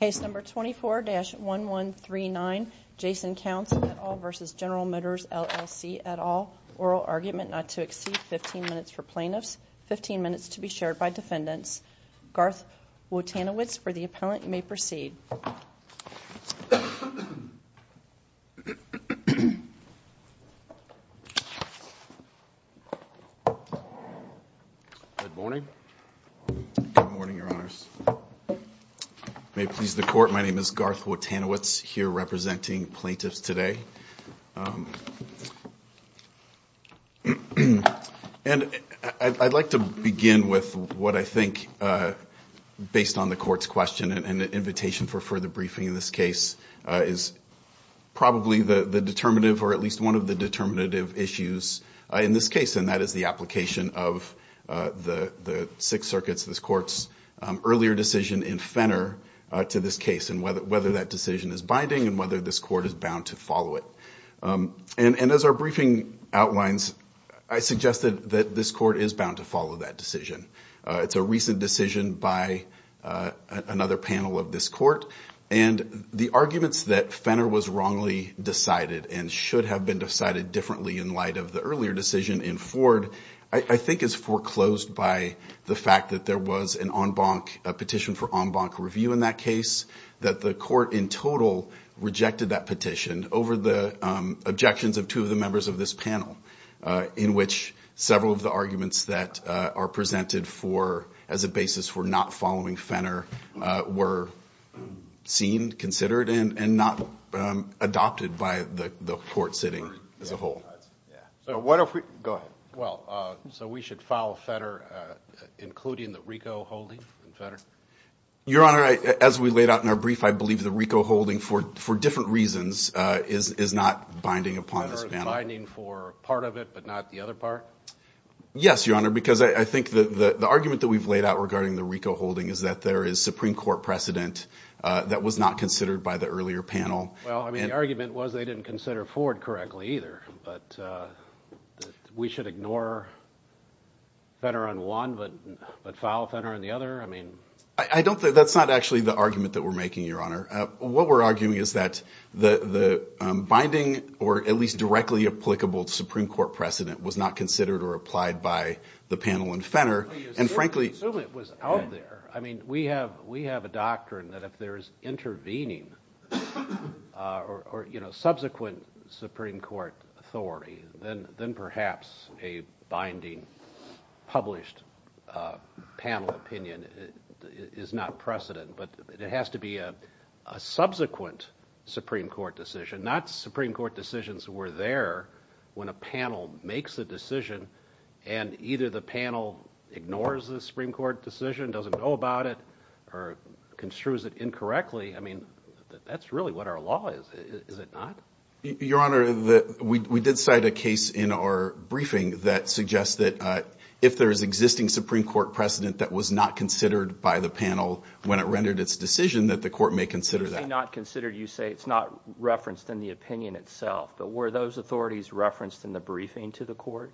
Case number 24-1139, Jason Counts v. General Motors LLC et al. Oral argument not to exceed 15 minutes for plaintiffs, 15 minutes to be shared by defendants. Garth Wotanowicz for the appellant, you may proceed. Good morning. Good morning, your honors. May it please the court, my name is Garth Wotanowicz, here representing plaintiffs today. And I'd like to begin with what I think, based on the court's question and invitation for further briefing in this case, is probably the determinative, or at least one of the determinative issues in this case, and that is the application of the Sixth Circuit's, this court's, earlier decision in Fenner to this case, and whether that decision is binding and whether this court is bound to follow it. And as our briefing outlines, I suggested that this court is bound to follow that decision. It's a recent decision by another panel of this court, and the arguments that Fenner was wrongly decided and should have been decided differently in light of the earlier decision in Ford, I think is foreclosed by the fact that there was an en banc, a petition for en banc review in that case, that the court in total rejected that petition over the objections of two of the members of this panel, in which several of the arguments that are presented for, as a basis for not following Fenner, were seen, considered, and not adopted by the court sitting as a whole. So what if we, go ahead. Well, so we should follow Fenner, including the RICO holding in Fenner? Your Honor, as we laid out in our brief, I believe the RICO holding, for different reasons, is not binding upon this panel. Is it binding for part of it, but not the other part? Yes, Your Honor, because I think the argument that we've laid out regarding the RICO holding is that there is Supreme Court precedent that was not considered by the earlier panel. Well, I mean, the argument was they didn't consider Ford correctly either, but we should ignore Fenner on one, but follow Fenner on the other? I don't think that's actually the argument that we're making, Your Honor. What we're arguing is that the binding, or at least directly applicable, Supreme Court precedent was not considered or applied by the panel in Fenner, and frankly- Assume it was out there. I mean, we have a doctrine that if there is intervening or subsequent Supreme Court authority, then perhaps a binding published panel opinion is not precedent, but it has to be a subsequent Supreme Court decision, not Supreme Court decisions were there when a panel makes a decision, and either the panel ignores the Supreme Court decision, doesn't know about it, or construes it incorrectly. I mean, that's really what our law is, is it not? Your Honor, we did cite a case in our briefing that suggests that if there is existing Supreme Court precedent that was not considered by the panel when it rendered its decision, that the court may consider that. You say not considered. You say it's not referenced in the opinion itself, but were those authorities referenced in the briefing to the court?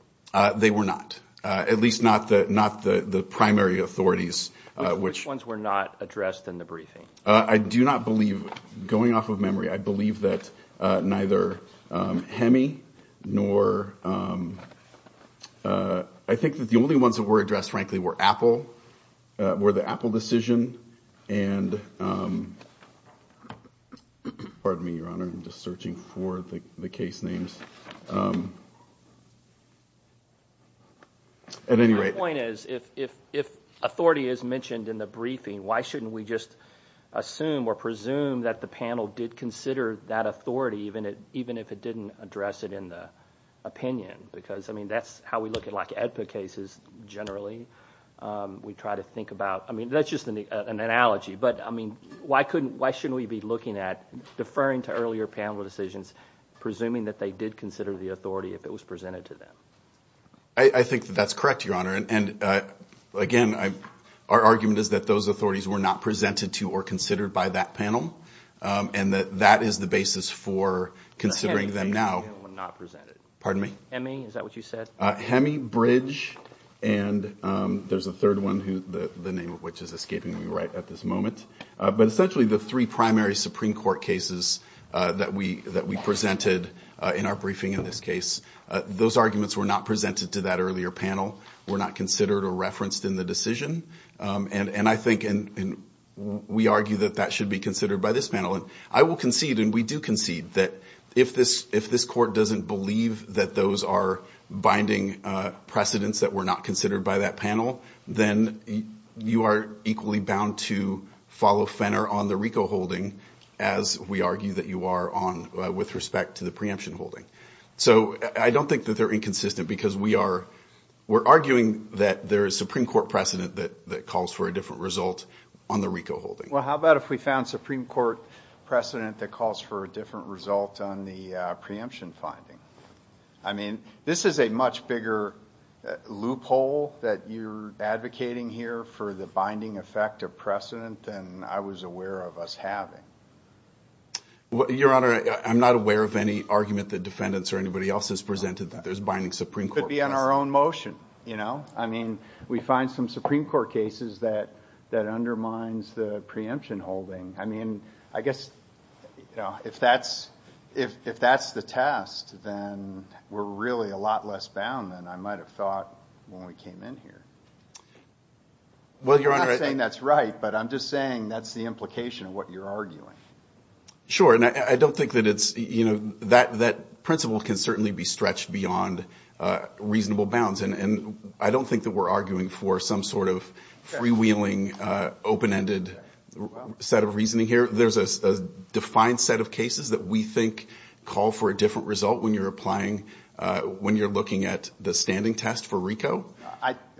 They were not, at least not the primary authorities, which- Which ones were not addressed in the briefing? I do not believe, going off of memory, I believe that neither HEMI nor- I think that the only ones that were addressed, frankly, were Apple, were the Apple decision, and- Pardon me, Your Honor, I'm just searching for the case names. At any rate- My point is, if authority is mentioned in the briefing, why shouldn't we just assume or presume that the panel did consider that authority, even if it didn't address it in the opinion? Because, I mean, that's how we look at, like, AEDPA cases generally. We try to think about- I mean, that's just an analogy, but, I mean, why shouldn't we be looking at, deferring to earlier panel decisions, presuming that they did consider the authority if it was presented to them? I think that that's correct, Your Honor, and, again, our argument is that those authorities were not presented to or considered by that panel, and that that is the basis for considering them now. HEMI cases were not presented. Pardon me? HEMI, is that what you said? HEMI, Bridge, and there's a third one, the name of which is escaping me right at this moment. But essentially, the three primary Supreme Court cases that we presented in our briefing in this case, those arguments were not presented to that earlier panel, were not considered or referenced in the decision. And I think, and we argue that that should be considered by this panel. And I will concede, and we do concede, that if this Court doesn't believe that those are binding precedents that were not considered by that panel, then you are equally bound to follow Fenner on the RICO holding as we argue that you are on with respect to the preemption holding. So I don't think that they're inconsistent, because we are arguing that there is Supreme Court precedent that calls for a different result on the RICO holding. Well, how about if we found Supreme Court precedent that calls for a different result on the preemption finding? I mean, this is a much bigger loophole that you're advocating here for the binding effect of precedent than I was aware of us having. Your Honor, I'm not aware of any argument that defendants or anybody else has presented that there's binding Supreme Court precedent. Could be on our own motion. I mean, we find some Supreme Court cases that undermines the preemption holding. I mean, I guess if that's the test, then we're really a lot less bound than I might have thought when we came in here. I'm not saying that's right, but I'm just saying that's the implication of what you're arguing. Sure, and I don't think that it's, you know, that principle can certainly be stretched beyond reasonable bounds. And I don't think that we're arguing for some sort of freewheeling, open-ended set of reasoning here. There's a defined set of cases that we think call for a different result when you're applying, when you're looking at the standing test for RICO.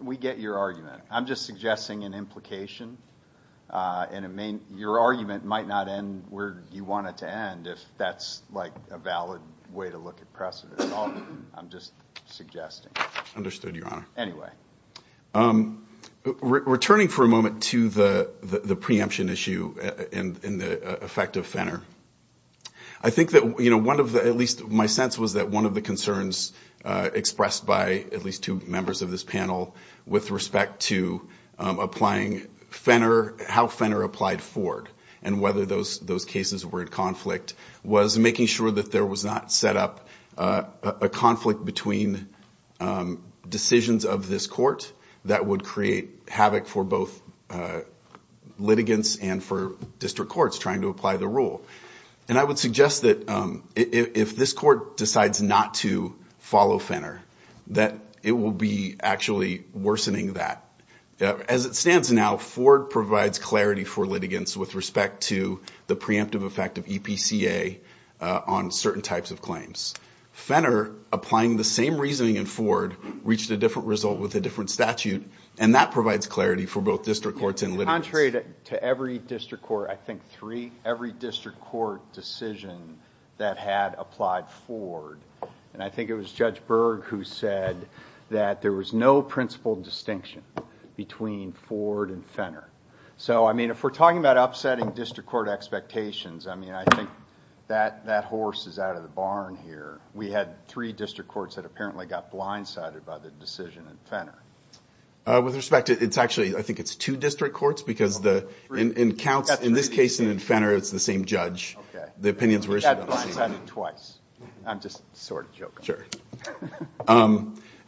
We get your argument. I'm just suggesting an implication. And your argument might not end where you want it to end if that's, like, a valid way to look at precedent. I'm just suggesting. Understood, Your Honor. Anyway. Returning for a moment to the preemption issue and the effect of Fenner, I think that, you know, one of the, at least my sense was that one of the concerns expressed by at least two members of this panel with respect to applying Fenner, how Fenner applied Ford and whether those cases were in conflict was making sure that there was not set up a conflict between decisions of this court that would create havoc for both litigants and for district courts trying to apply the rule. And I would suggest that if this court decides not to follow Fenner, that it will be actually worsening that. As it stands now, Ford provides clarity for litigants with respect to the preemptive effect of EPCA on certain types of claims. Fenner, applying the same reasoning in Ford, reached a different result with a different statute, and that provides clarity for both district courts and litigants. Contrary to every district court, I think three, every district court decision that had applied Ford, and I think it was Judge Berg who said that there was no principled distinction between Ford and Fenner. So, I mean, if we're talking about upsetting district court expectations, I mean, I think that horse is out of the barn here. We had three district courts that apparently got blindsided by the decision in Fenner. With respect to, it's actually, I think it's two district courts because in counts, in this case and in Fenner, it's the same judge. The opinions were issued on the same judge. I got blindsided twice. I'm just sort of joking.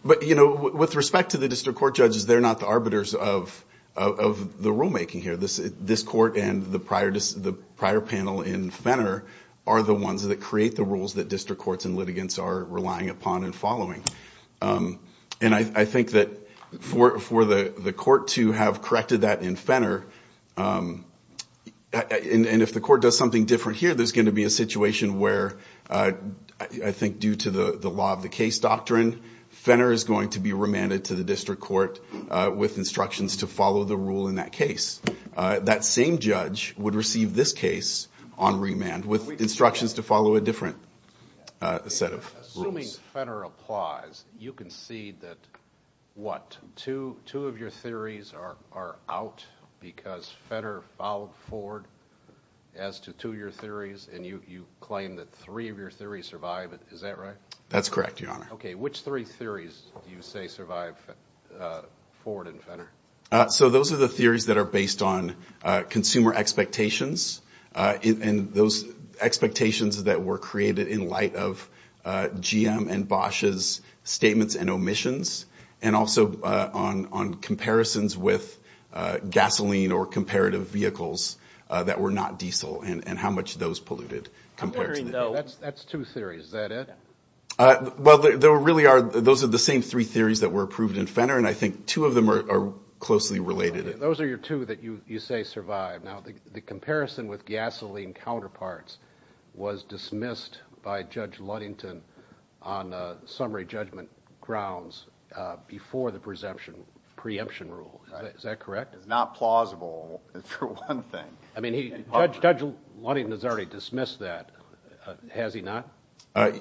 But, you know, with respect to the district court judges, they're not the arbiters of the rulemaking here. This court and the prior panel in Fenner are the ones that create the rules that district courts and litigants are relying upon and following. And I think that for the court to have corrected that in Fenner, and if the court does something different here, there's going to be a situation where I think due to the law of the case doctrine, Fenner is going to be remanded to the district court with instructions to follow the rule in that case. That same judge would receive this case on remand with instructions to follow a different set of rules. Assuming Fenner applies, you can see that, what, two of your theories are out because Fenner followed forward as to two of your theories, and you claim that three of your theories survive. Is that right? That's correct, Your Honor. Okay. Which three theories do you say survive forward in Fenner? So those are the theories that are based on consumer expectations, and those expectations that were created in light of GM and Bosch's statements and omissions, and also on comparisons with gasoline or comparative vehicles that were not diesel and how much those polluted. That's two theories. Is that it? Well, those are the same three theories that were approved in Fenner, and I think two of them are closely related. Those are your two that you say survive. Now, the comparison with gasoline counterparts was dismissed by Judge Ludington on summary judgment grounds before the preemption rule. Is that correct? It's not plausible, for one thing. Judge Ludington has already dismissed that. Has he not?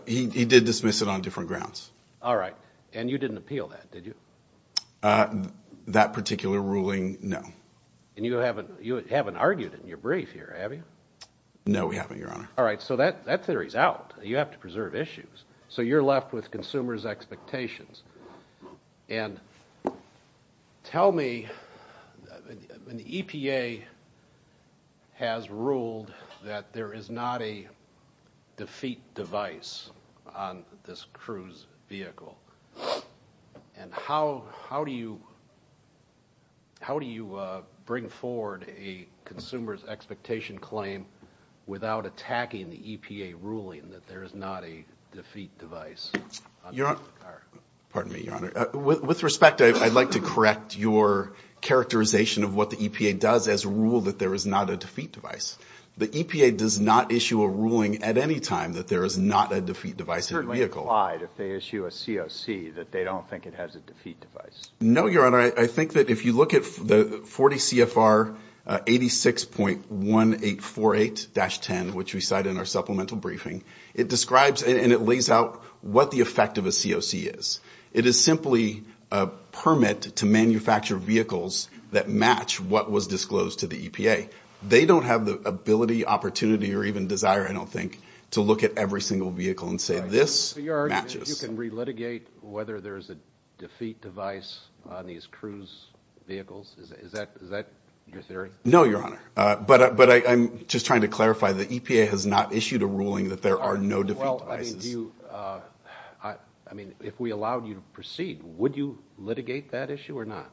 He did dismiss it on different grounds. All right. And you didn't appeal that, did you? That particular ruling, no. And you haven't argued in your brief here, have you? No, we haven't, Your Honor. All right. So that theory's out. You have to preserve issues. So you're left with consumers' expectations. And tell me, when the EPA has ruled that there is not a defeat device on this cruise vehicle, and how do you bring forward a consumer's expectation claim without attacking the EPA ruling that there is not a defeat device? Pardon me, Your Honor. With respect, I'd like to correct your characterization of what the EPA does as a rule that there is not a defeat device. The EPA does not issue a ruling at any time that there is not a defeat device in the vehicle. So it's implied, if they issue a COC, that they don't think it has a defeat device? No, Your Honor. I think that if you look at the 40 CFR 86.1848-10, which we cite in our supplemental briefing, it describes and it lays out what the effect of a COC is. It is simply a permit to manufacture vehicles that match what was disclosed to the EPA. They don't have the ability, opportunity, or even desire, I don't think, to look at every single vehicle and say, this matches. So you're arguing that you can relitigate whether there is a defeat device on these cruise vehicles? Is that your theory? No, Your Honor. But I'm just trying to clarify, the EPA has not issued a ruling that there are no defeat devices. Well, I mean, if we allowed you to proceed, would you litigate that issue or not?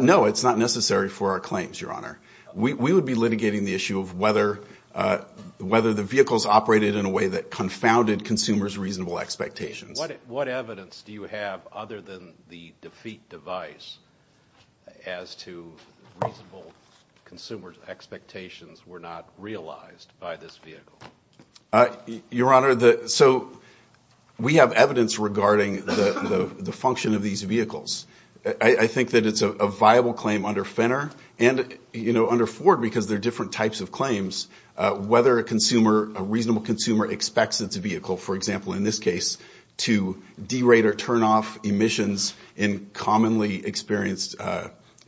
No, it's not necessary for our claims, Your Honor. We would be litigating the issue of whether the vehicles operated in a way that confounded consumers' reasonable expectations. What evidence do you have, other than the defeat device, as to reasonable consumers' expectations were not realized by this vehicle? Your Honor, so we have evidence regarding the function of these vehicles. I think that it's a viable claim under Fenner and under Ford because they're different types of claims, whether a reasonable consumer expects its vehicle, for example, in this case, to derate or turn off emissions in commonly experienced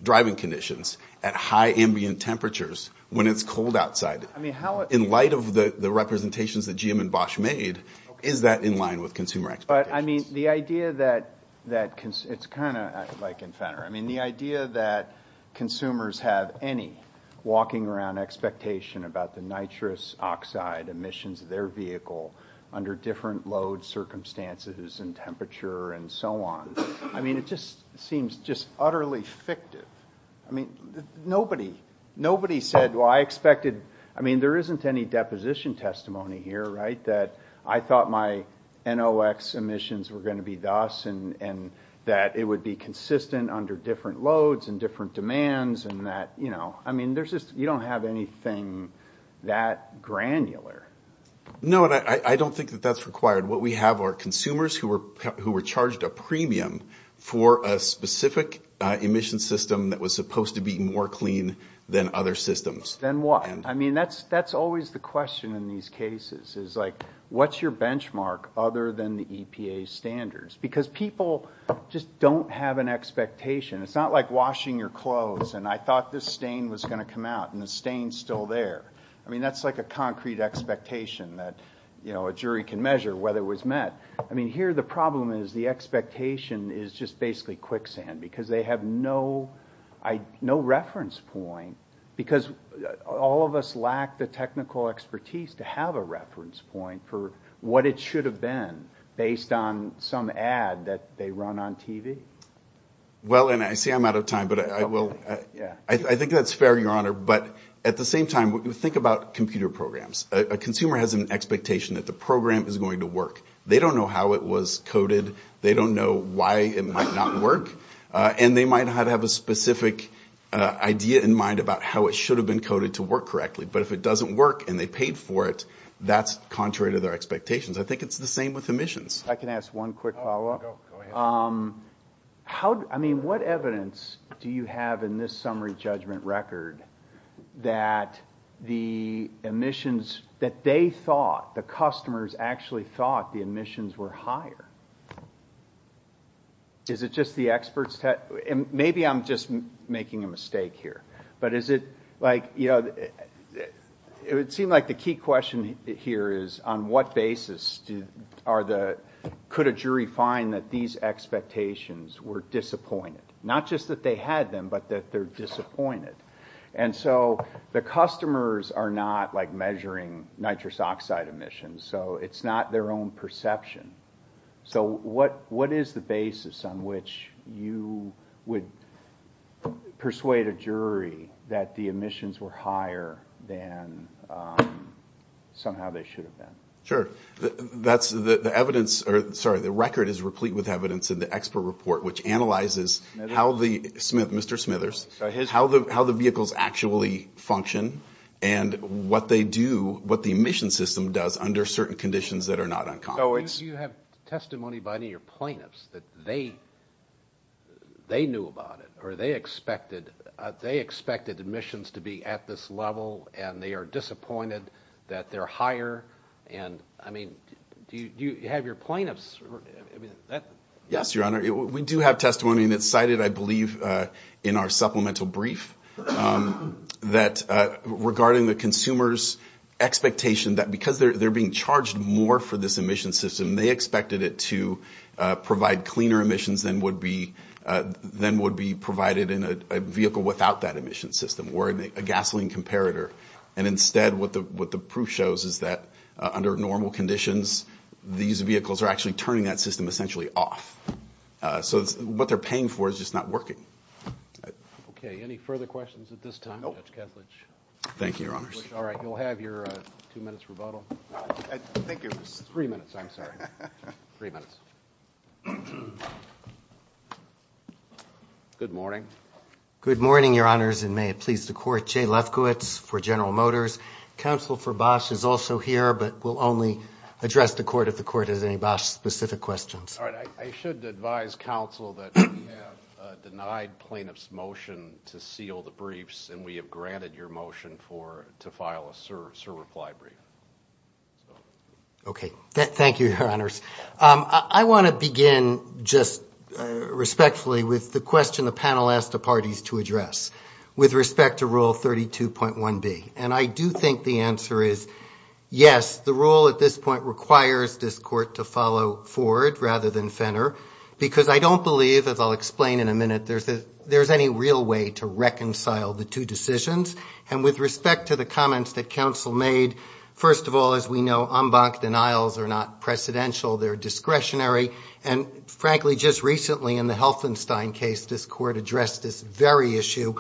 driving conditions at high ambient temperatures when it's cold outside. In light of the representations that GM and Bosch made, is that in line with consumer expectations? But, I mean, the idea that it's kind of like in Fenner. I mean, the idea that consumers have any walking around expectation about the nitrous oxide emissions of their vehicle under different load circumstances and temperature and so on, I mean, it just seems just utterly fictive. I mean, nobody said, well, I expected, I mean, there isn't any deposition testimony here, right, that I thought my NOx emissions were going to be thus and that it would be consistent under different loads and different demands and that, you know, I mean, you don't have anything that granular. No, and I don't think that that's required. What we have are consumers who were charged a premium for a specific emission system that was supposed to be more clean than other systems. Then what? I mean, that's always the question in these cases is, like, what's your benchmark other than the EPA standards? Because people just don't have an expectation. It's not like washing your clothes and I thought this stain was going to come out and the stain's still there. I mean, that's like a concrete expectation that, you know, a jury can measure whether it was met. I mean, here the problem is the expectation is just basically quicksand because they have no reference point because all of us lack the technical expertise to have a reference point for what it should have been based on some ad that they run on TV. Well, and I see I'm out of time, but I will. I think that's fair, Your Honor, but at the same time, think about computer programs. A consumer has an expectation that the program is going to work. They don't know how it was coded. They don't know why it might not work. And they might not have a specific idea in mind about how it should have been coded to work correctly. But if it doesn't work and they paid for it, that's contrary to their expectations. I think it's the same with emissions. I can ask one quick follow-up. I mean, what evidence do you have in this summary judgment record that the emissions that they thought, the customers actually thought the emissions were higher? Is it just the experts? Maybe I'm just making a mistake here. But is it like, you know, it would seem like the key question here is on what basis are the, could a jury find that these expectations were disappointed? Not just that they had them, but that they're disappointed. And so the customers are not, like, measuring nitrous oxide emissions. So it's not their own perception. So what is the basis on which you would persuade a jury that the emissions were higher than somehow they should have been? Sure. That's the evidence, or sorry, the record is replete with evidence in the expert report, which analyzes how the, Mr. Smithers, how the vehicles actually function and what they do, what the emission system does under certain conditions that are not uncommon. Do you have testimony by any of your plaintiffs that they knew about it, or they expected emissions to be at this level and they are disappointed that they're higher? And, I mean, do you have your plaintiffs? Yes, Your Honor. We do have testimony, and it's cited, I believe, in our supplemental brief, that regarding the consumer's expectation that because they're being charged more for this emission system, they expected it to provide cleaner emissions than would be provided in a vehicle without that emission system or in a gasoline comparator. And instead, what the proof shows is that under normal conditions, these vehicles are actually turning that system essentially off. So what they're paying for is just not working. Okay. Any further questions at this time, Judge Ketledge? Nope. Thank you, Your Honors. All right. You'll have your two minutes rebuttal. I think it was three minutes. I'm sorry. Three minutes. Good morning. Good morning, Your Honors. And may it please the Court, Jay Lefkowitz for General Motors. Counsel for Bosch is also here, but we'll only address the Court if the Court has any Bosch-specific questions. All right. I should advise Counsel that we have denied plaintiffs' motion to seal the briefs, and we have granted your motion to file a sur-reply brief. Okay. Thank you, Your Honors. I want to begin just respectfully with the question the panel asked the parties to address with respect to Rule 32.1B. And I do think the answer is yes, the rule at this point requires this Court to follow forward rather than fender, because I don't believe, as I'll explain in a minute, there's any real way to reconcile the two decisions. And with respect to the comments that Counsel made, first of all, as we know, en banc denials are not precedential, they're discretionary. And frankly, just recently in the Helfenstein case, this Court addressed this very issue.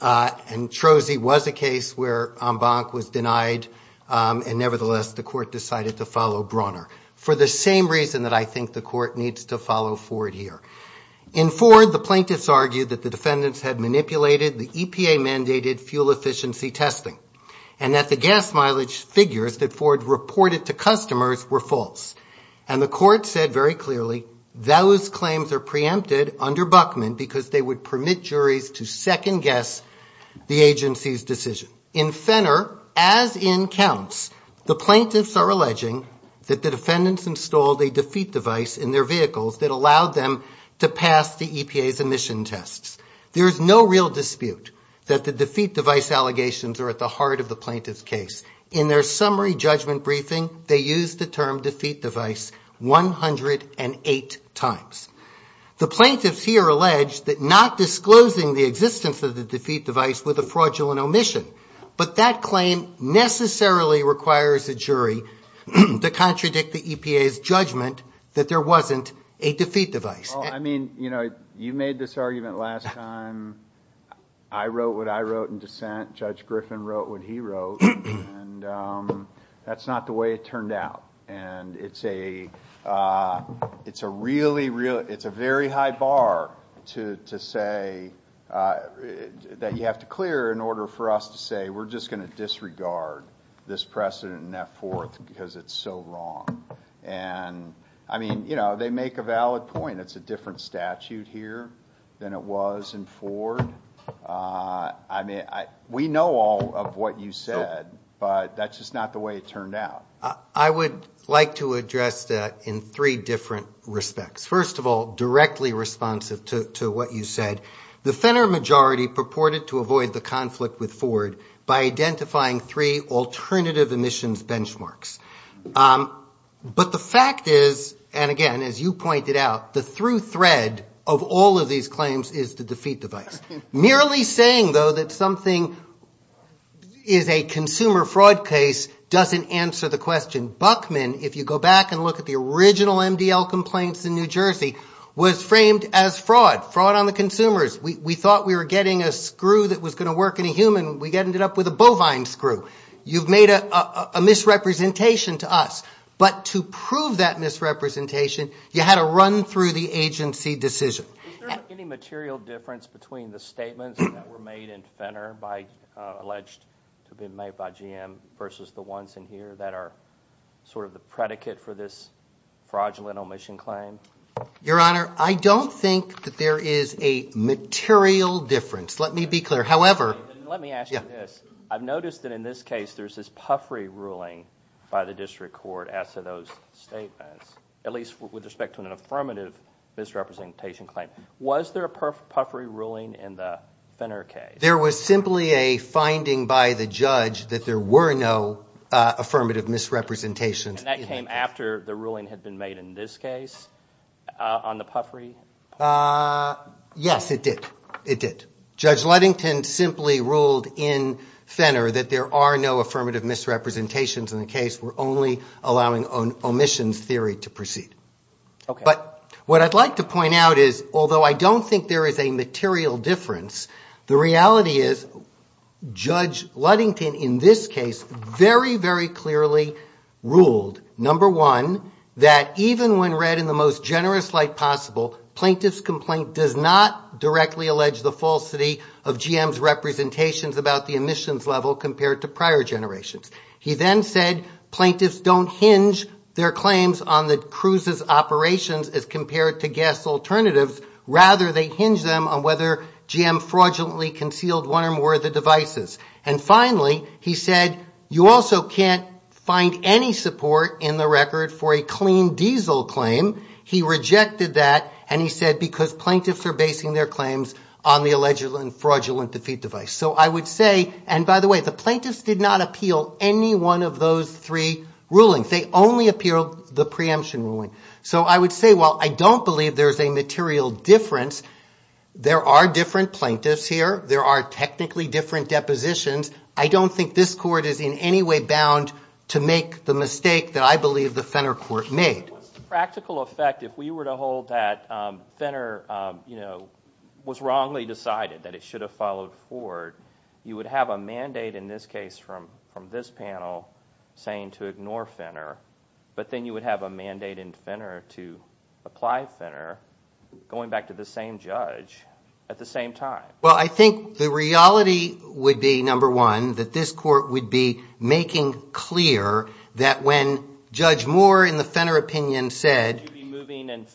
And Troese was a case where en banc was denied, and nevertheless, the Court decided to follow Brawner, for the same reason that I think the Court needs to follow forward here. In Ford, the plaintiffs argued that the defendants had manipulated the EPA-mandated fuel efficiency testing, and that the gas mileage figures that Ford reported to customers were false. And the Court said very clearly those claims are preempted under Buchman because they would permit juries to second-guess the agency's decision. In Fenner, as in counts, the plaintiffs are alleging that the defendants installed a defeat device in their vehicles that allowed them to pass the EPA's emission tests. There is no real dispute that the defeat device allegations are at the heart of the plaintiffs' case. In their summary judgment briefing, they used the term defeat device 108 times. The plaintiffs here allege that not disclosing the existence of the defeat device was a fraudulent omission. But that claim necessarily requires a jury to contradict the EPA's judgment that there wasn't a defeat device. Well, I mean, you know, you made this argument last time. I wrote what I wrote in dissent. Judge Griffin wrote what he wrote. And that's not the way it turned out. And it's a really high bar to say that you have to clear in order for us to say we're just going to disregard this precedent in F-4 because it's so wrong. And, I mean, you know, they make a valid point. It's a different statute here than it was in Ford. I mean, we know all of what you said, but that's just not the way it turned out. I would like to address that in three different respects. First of all, directly responsive to what you said, the Fenner majority purported to avoid the conflict with Ford by identifying three alternative emissions benchmarks. But the fact is, and again, as you pointed out, the through thread of all of these claims is the defeat device. Merely saying, though, that something is a consumer fraud case doesn't answer the question. Buckman, if you go back and look at the original MDL complaints in New Jersey, was framed as fraud. Fraud on the consumers. We thought we were getting a screw that was going to work in a human. We ended up with a bovine screw. You've made a misrepresentation to us. But to prove that misrepresentation, you had to run through the agency decision. Is there any material difference between the statements that were made in Fenner by alleged to have been made by GM versus the ones in here that are sort of the predicate for this fraudulent omission claim? Your Honor, I don't think that there is a material difference. Let me be clear. Let me ask you this. I've noticed that in this case there's this Puffrey ruling by the district court as to those statements, at least with respect to an affirmative misrepresentation claim. Was there a Puffrey ruling in the Fenner case? There was simply a finding by the judge that there were no affirmative misrepresentations. And that came after the ruling had been made in this case on the Puffrey? Yes, it did. Judge Ludington simply ruled in Fenner that there are no affirmative misrepresentations in the case. We're only allowing omissions theory to proceed. But what I'd like to point out is, although I don't think there is a material difference, the reality is Judge Ludington in this case very, very clearly ruled, number one, that even when read in the most generous light possible, plaintiff's complaint does not directly allege the falsity of GM's representations about the omissions level compared to prior generations. He then said plaintiffs don't hinge their claims on the cruises operations as compared to gas alternatives. Rather, they hinge them on whether GM fraudulently concealed one or more of the devices. And finally, he said you also can't find any support in the record for a clean diesel claim. He rejected that, and he said because plaintiffs are basing their claims on the alleged fraudulent defeat device. So I would say, and by the way, the plaintiffs did not appeal any one of those three rulings. They only appealed the preemption ruling. So I would say while I don't believe there's a material difference, there are different plaintiffs here. There are technically different depositions. I don't think this court is in any way bound to make the mistake that I believe the Fenner court made. The practical effect, if we were to hold that Fenner was wrongly decided, that it should have followed Ford, you would have a mandate in this case from this panel saying to ignore Fenner, but then you would have a mandate in Fenner to apply Fenner going back to the same judge at the same time. Well, I think the reality would be, number one, that this court would be making clear that when Judge Moore in the Fenner opinion said- Would you be moving in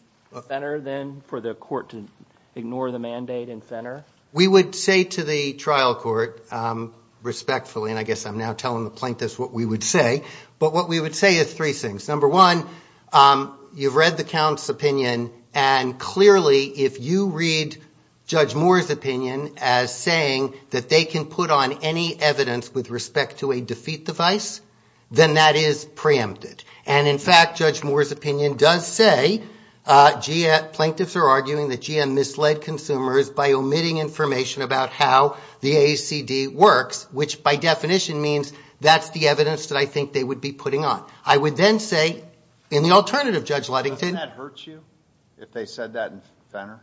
Fenner then for the court to ignore the mandate in Fenner? We would say to the trial court respectfully, and I guess I'm now telling the plaintiffs what we would say, but what we would say is three things. Number one, you've read the count's opinion, and clearly if you read Judge Moore's opinion as saying that they can put on any evidence with respect to a defeat device, then that is preempted. And in fact, Judge Moore's opinion does say plaintiffs are arguing that GM misled consumers by omitting information about how the AACD works, which by definition means that's the evidence that I think they would be putting on. I would then say in the alternative, Judge Ludington- Doesn't that hurt you if they said that in Fenner?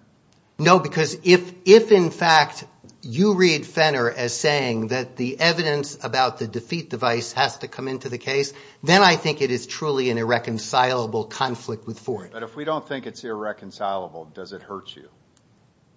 No, because if in fact you read Fenner as saying that the evidence about the defeat device has to come into the case, then I think it is truly an irreconcilable conflict with Ford. But if we don't think it's irreconcilable, does it hurt you?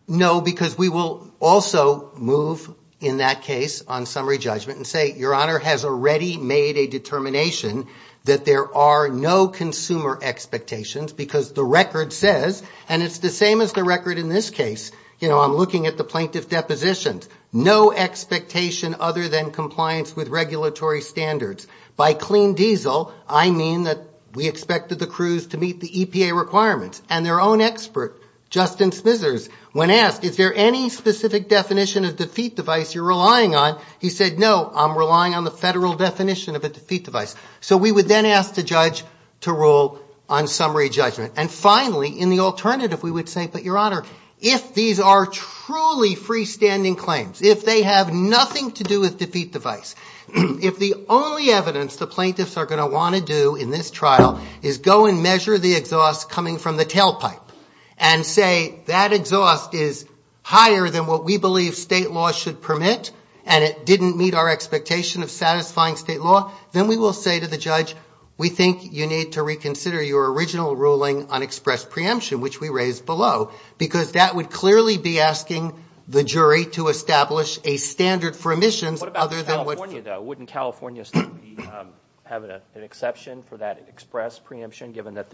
No, because we will also move in that case on summary judgment and say, Your Honor, has already made a determination that there are no consumer expectations, because the record says, and it's the same as the record in this case, you know, I'm looking at the plaintiff's depositions, no expectation other than compliance with regulatory standards. By clean diesel, I mean that we expected the crews to meet the EPA requirements. And their own expert, Justin Smithers, when asked, is there any specific definition of defeat device you're relying on, he said, no, I'm relying on the federal definition of a defeat device. So we would then ask the judge to rule on summary judgment. And finally, in the alternative, we would say, but, Your Honor, if these are truly freestanding claims, if they have nothing to do with defeat device, if the only evidence the plaintiffs are going to want to do in this trial is go and measure the exhaust coming from the tailpipe and say that exhaust is higher than what we believe state law should permit and it didn't meet our expectation of satisfying state law, then we will say to the judge, we think you need to reconsider your original ruling on express preemption, which we raised below, because that would clearly be asking the jury to establish a standard for emissions. What about California, though? Wouldn't California still have an exception for that express preemption, given that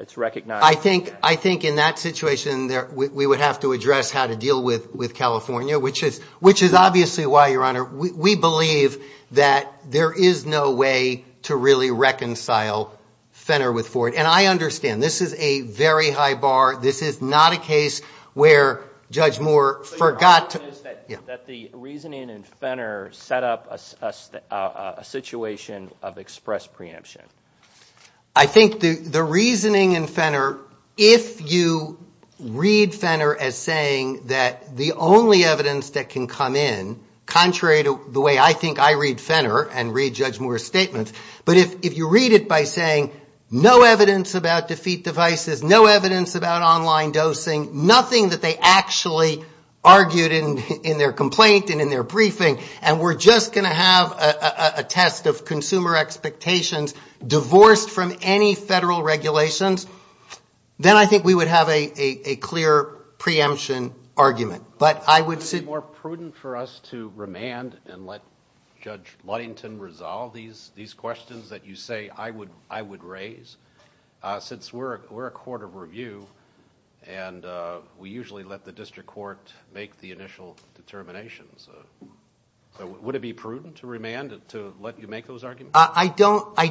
it's recognized? I think in that situation, we would have to address how to deal with California, which is obviously why, Your Honor, we believe that there is no way to really reconcile Fenner with Ford. And I understand. This is a very high bar. This is not a case where Judge Moore forgot to – But your argument is that the reasoning in Fenner set up a situation of express preemption. I think the reasoning in Fenner, if you read Fenner as saying that the only evidence that can come in, contrary to the way I think I read Fenner and read Judge Moore's statements, but if you read it by saying no evidence about defeat devices, no evidence about online dosing, nothing that they actually argued in their complaint and in their briefing, and we're just going to have a test of consumer expectations divorced from any federal regulations, then I think we would have a clear preemption argument. But I would say – Wouldn't it be more prudent for us to remand and let Judge Ludington resolve these questions that you say I would raise? Since we're a court of review and we usually let the district court make the initial determinations. Would it be prudent to remand to let you make those arguments? I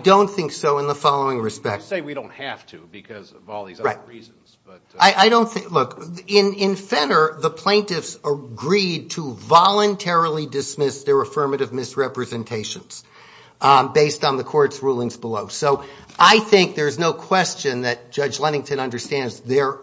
don't think so in the following respect. You say we don't have to because of all these other reasons, but – I don't think – look, in Fenner, the plaintiffs agreed to voluntarily dismiss their affirmative misrepresentations based on the court's rulings below. So I think there's no question that Judge Ludington understands there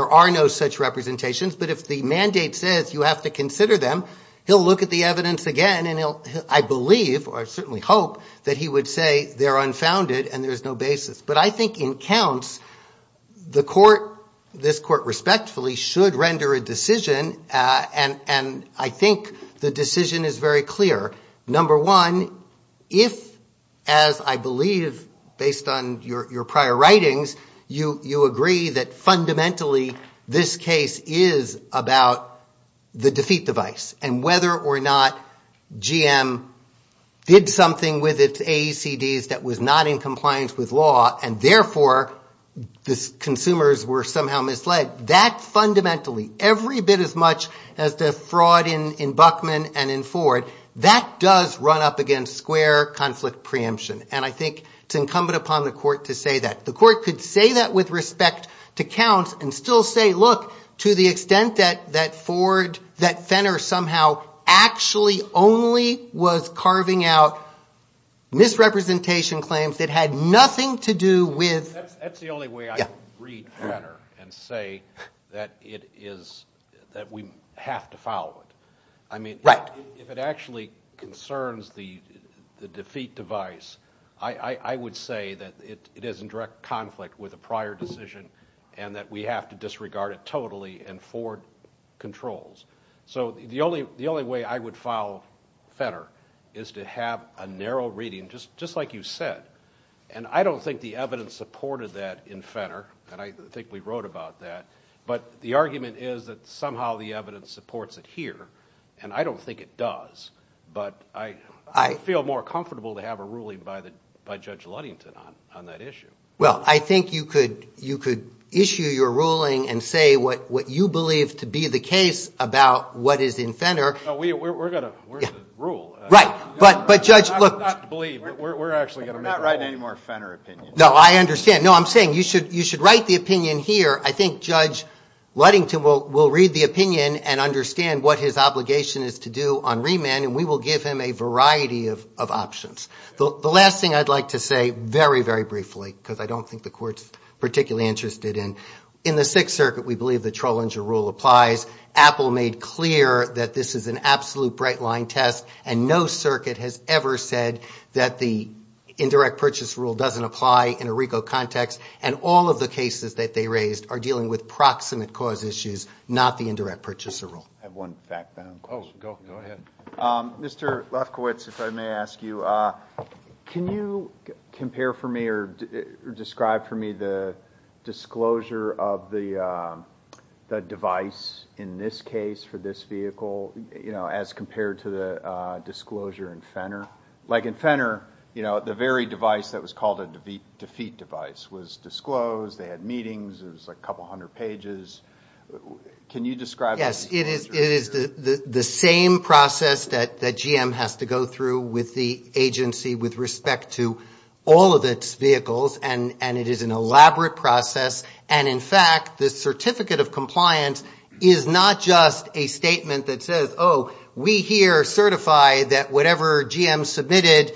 are no such representations, but if the mandate says you have to consider them, he'll look at the evidence again, and I believe, or I certainly hope, that he would say they're unfounded and there's no basis. But I think in counts, the court, this court respectfully, should render a decision, and I think the decision is very clear. Number one, if, as I believe based on your prior writings, you agree that fundamentally this case is about the defeat device and whether or not GM did something with its AECDs that was not in compliance with law and therefore the consumers were somehow misled, that fundamentally, every bit as much as the fraud in Buckman and in Ford, that does run up against square conflict preemption, and I think it's incumbent upon the court to say that. The court could say that with respect to counts and still say, look, to the extent that Ford, that Fenner somehow, actually only was carving out misrepresentation claims that had nothing to do with... That's the only way I can read Fenner and say that it is, that we have to follow it. I mean, if it actually concerns the defeat device, I would say that it is in direct conflict with a prior decision and that we have to disregard it totally and Ford controls. So the only way I would follow Fenner is to have a narrow reading, just like you said, and I don't think the evidence supported that in Fenner, and I think we wrote about that, but the argument is that somehow the evidence supports it here, and I don't think it does, but I feel more comfortable to have a ruling by Judge Ludington on that issue. Well, I think you could issue your ruling and say what you believe to be the case about what is in Fenner. We're going to rule. Right, but Judge... Not to believe, but we're actually going to make a rule. We're not writing any more Fenner opinions. No, I understand. No, I'm saying you should write the opinion here. I think Judge Ludington will read the opinion and understand what his obligation is to do on remand, and we will give him a variety of options. The last thing I'd like to say, very, very briefly, because I don't think the Court's particularly interested in, in the Sixth Circuit we believe the Trollinger rule applies. Apple made clear that this is an absolute bright-line test, and no circuit has ever said that the indirect purchase rule doesn't apply in a RICO context, and all of the cases that they raised are dealing with proximate cause issues, not the indirect purchaser rule. I have one fact then. Oh, go ahead. Mr. Lefkowitz, if I may ask you, can you compare for me or describe for me the disclosure of the device in this case for this vehicle as compared to the disclosure in Fenner? Like in Fenner, the very device that was called a defeat device was disclosed, they had meetings, it was a couple hundred pages. Can you describe that? Yes. It is the same process that GM has to go through with the agency with respect to all of its vehicles, and it is an elaborate process. And, in fact, the certificate of compliance is not just a statement that says, oh, we here certify that whatever GM submitted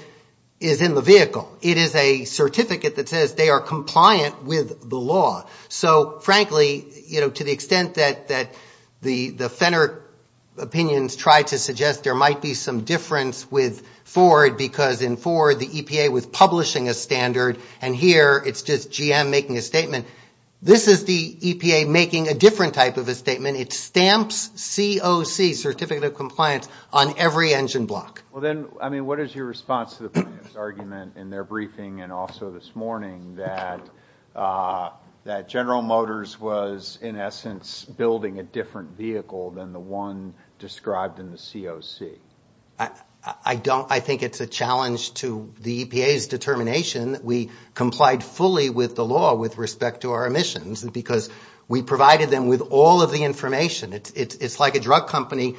is in the vehicle. It is a certificate that says they are compliant with the law. So, frankly, to the extent that the Fenner opinions try to suggest there might be some difference with Ford because in Ford the EPA was publishing a standard and here it's just GM making a statement, this is the EPA making a different type of a statement. It stamps COC, certificate of compliance, on every engine block. Well, then, I mean, what is your response to the plaintiff's argument in their briefing and also this morning that General Motors was, in essence, building a different vehicle than the one described in the COC? I think it's a challenge to the EPA's determination that we complied fully with the law with respect to our emissions because we provided them with all of the information. It's like a drug company,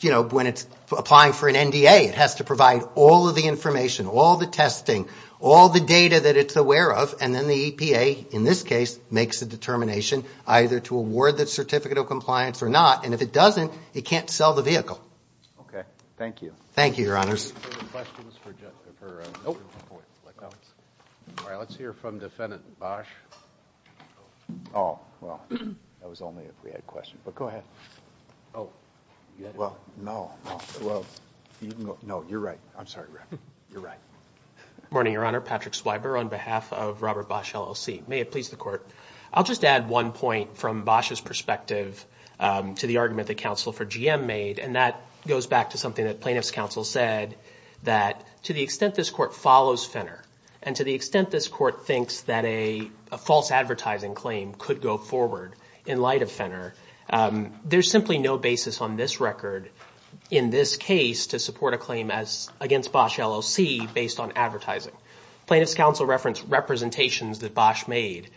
you know, when it's applying for an NDA. It has to provide all of the information, all the testing, all the data that it's aware of, and then the EPA, in this case, makes a determination either to award the certificate of compliance or not. And if it doesn't, it can't sell the vehicle. Okay. Thank you. Thank you, Your Honors. All right. Let's hear from Defendant Bosch. Oh, well, that was only if we had questions. But go ahead. Oh. Well, no. Well, you can go. No, you're right. I'm sorry. You're right. Good morning, Your Honor. Patrick Schweiber on behalf of Robert Bosch, LLC. May it please the Court. I'll just add one point from Bosch's perspective to the argument that counsel for GM made, and that goes back to something that plaintiff's counsel said, that to the extent this Court follows Finner and to the extent this Court thinks that a false advertising claim could go forward in light of Finner, there's simply no basis on this record in this case to support a claim against Bosch, LLC based on advertising. Plaintiff's counsel referenced representations that Bosch made.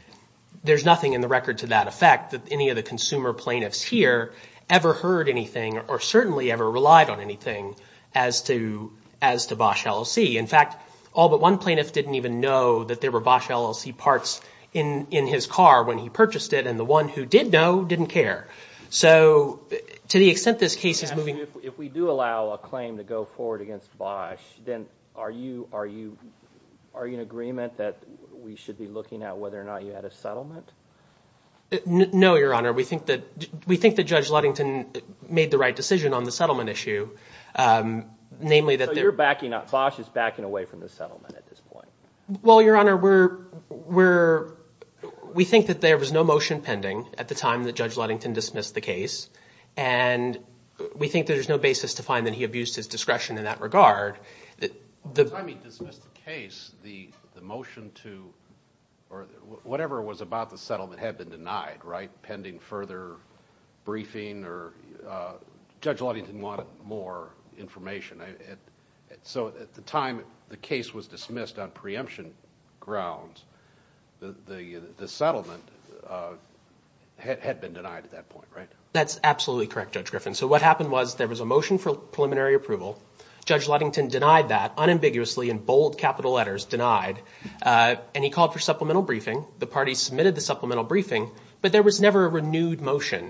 There's nothing in the record to that effect that any of the consumer plaintiffs here ever heard anything or certainly ever relied on anything as to Bosch, LLC. In fact, all but one plaintiff didn't even know that there were Bosch, LLC parts in his car when he purchased it, and the one who did know didn't care. So to the extent this case is moving... Patrick, if we do allow a claim to go forward against Bosch, then are you in agreement that we should be looking at whether or not you had a settlement? No, Your Honor. We think that Judge Ludington made the right decision on the settlement issue, namely that... Bosch is backing away from the settlement at this point. Well, Your Honor, we think that there was no motion pending at the time that Judge Ludington dismissed the case, and we think there's no basis to find that he abused his discretion in that regard. By the time he dismissed the case, the motion to... or whatever it was about the settlement had been denied, right? Pending further briefing or... Judge Ludington wanted more information. So at the time the case was dismissed on preemption grounds, the settlement had been denied at that point, right? That's absolutely correct, Judge Griffin. So what happened was there was a motion for preliminary approval. Judge Ludington denied that unambiguously in bold capital letters, denied, and he called for supplemental briefing. The party submitted the supplemental briefing, but there was never a renewed motion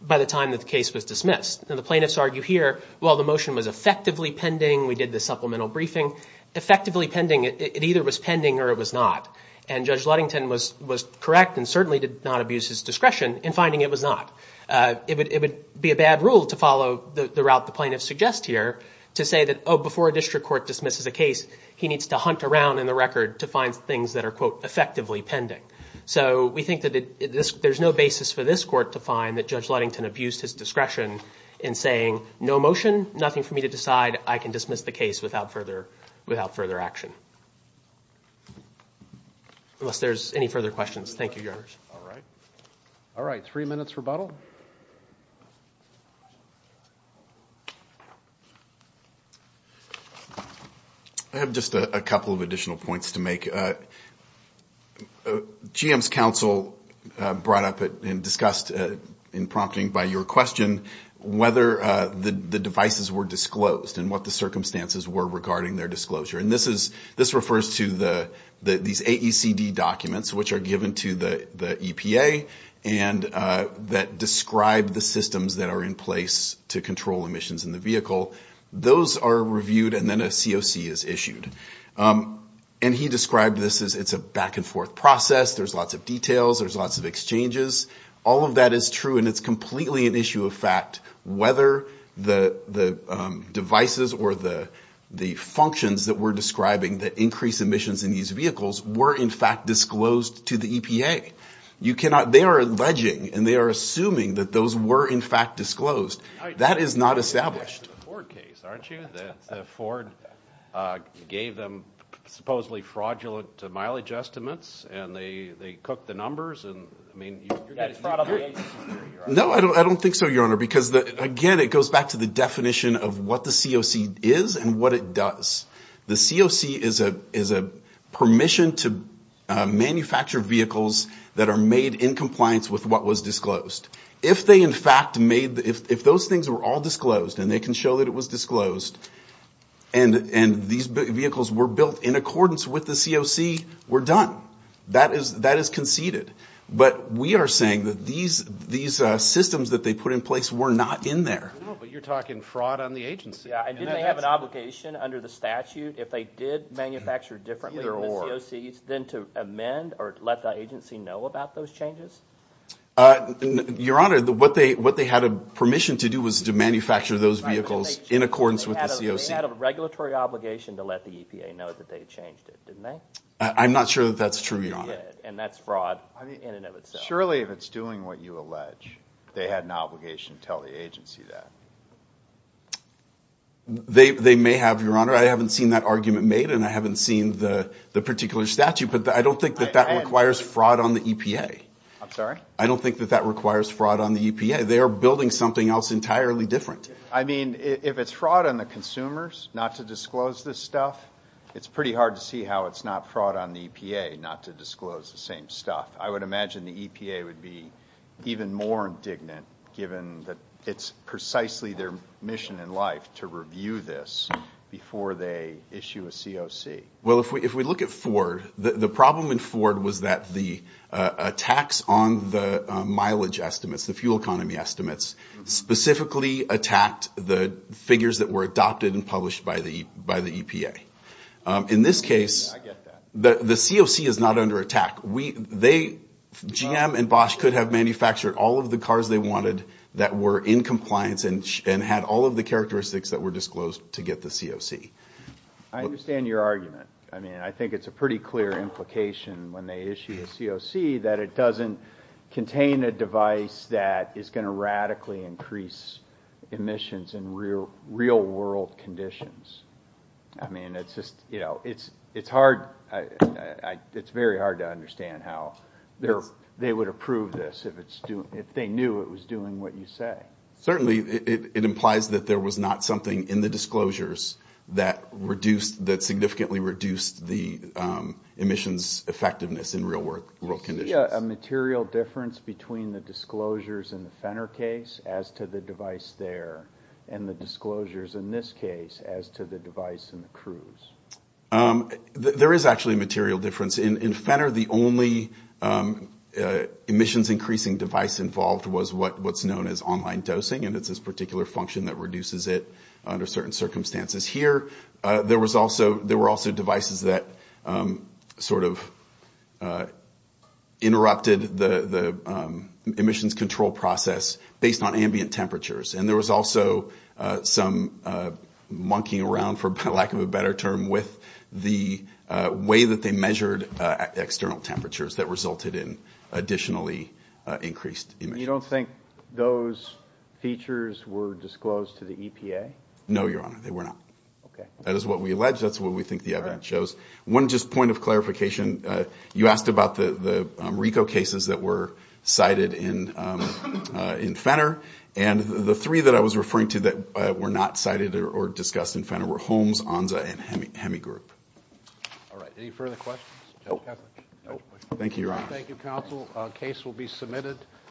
by the time that the case was dismissed. Now, the plaintiffs argue here, well, the motion was effectively pending. We did the supplemental briefing. Effectively pending, it either was pending or it was not, and Judge Ludington was correct and certainly did not abuse his discretion in finding it was not. It would be a bad rule to follow the route the plaintiffs suggest here to say that, oh, before a district court dismisses a case, he needs to hunt around in the record to find things that are, quote, there's no basis for this court to find that Judge Ludington abused his discretion in saying no motion, nothing for me to decide, I can dismiss the case without further action. Unless there's any further questions. Thank you, Your Honors. All right. All right, three minutes rebuttal. I have just a couple of additional points to make. GM's counsel brought up and discussed in prompting by your question whether the devices were disclosed and what the circumstances were regarding their disclosure. And this refers to these AECD documents, which are given to the EPA, and that describe the systems that are in place to control emissions in the vehicle. Those are reviewed and then a COC is issued. And he described this as it's a back-and-forth process. There's lots of details. There's lots of exchanges. All of that is true, and it's completely an issue of fact whether the devices or the functions that we're describing that increase emissions in these vehicles were, in fact, disclosed to the EPA. They are alleging and they are assuming that those were, in fact, disclosed. That is not established. You're referring to the Ford case, aren't you? That Ford gave them supposedly fraudulent mileage estimates, and they cooked the numbers, and, I mean, you're getting fraud on the agency here. No, I don't think so, Your Honor, because, again, it goes back to the definition of what the COC is and what it does. The COC is a permission to manufacture vehicles that are made in compliance with what was disclosed. If they, in fact, made the – if those things were all disclosed and they can show that it was disclosed and these vehicles were built in accordance with the COC, we're done. That is conceded. But we are saying that these systems that they put in place were not in there. No, but you're talking fraud on the agency. Yeah, and didn't they have an obligation under the statute if they did manufacture differently than the COCs, then to amend or let the agency know about those changes? Your Honor, what they had a permission to do was to manufacture those vehicles in accordance with the COC. They had a regulatory obligation to let the EPA know that they changed it, didn't they? I'm not sure that that's true, Your Honor. And that's fraud in and of itself. Surely if it's doing what you allege, they had an obligation to tell the agency that. They may have, Your Honor. I haven't seen that argument made, and I haven't seen the particular statute, but I don't think that that requires fraud on the EPA. I'm sorry? I don't think that that requires fraud on the EPA. They are building something else entirely different. I mean, if it's fraud on the consumers not to disclose this stuff, it's pretty hard to see how it's not fraud on the EPA not to disclose the same stuff. I would imagine the EPA would be even more indignant, given that it's precisely their mission in life to review this before they issue a COC. Well, if we look at Ford, the problem in Ford was that the attacks on the mileage estimates, the fuel economy estimates, specifically attacked the figures that were adopted and published by the EPA. In this case, the COC is not under attack. GM and Bosch could have manufactured all of the cars they wanted that were in compliance and had all of the characteristics that were disclosed to get the COC. I understand your argument. I mean, I think it's a pretty clear implication when they issue a COC that it doesn't contain a device that is going to radically increase emissions in real-world conditions. I mean, it's just, you know, it's hard. It's very hard to understand how they would approve this if they knew it was doing what you say. Certainly, it implies that there was not something in the disclosures that significantly reduced the emissions effectiveness in real-world conditions. Is there a material difference between the disclosures in the Fenner case as to the device there and the disclosures in this case as to the device in the Cruz? There is actually a material difference. In Fenner, the only emissions-increasing device involved was what's known as online dosing, and it's this particular function that reduces it under certain circumstances. Here, there were also devices that sort of interrupted the emissions control process based on ambient temperatures. And there was also some monkeying around, for lack of a better term, with the way that they measured external temperatures that resulted in additionally increased emissions. You don't think those features were disclosed to the EPA? No, Your Honor, they were not. That is what we allege. That's what we think the evidence shows. One just point of clarification. You asked about the RICO cases that were cited in Fenner, and the three that I was referring to that were not cited or discussed in Fenner were Holmes, Onza, and Hemigroup. All right. Any further questions? Thank you, Your Honor. Thank you, Counsel. The case will be submitted.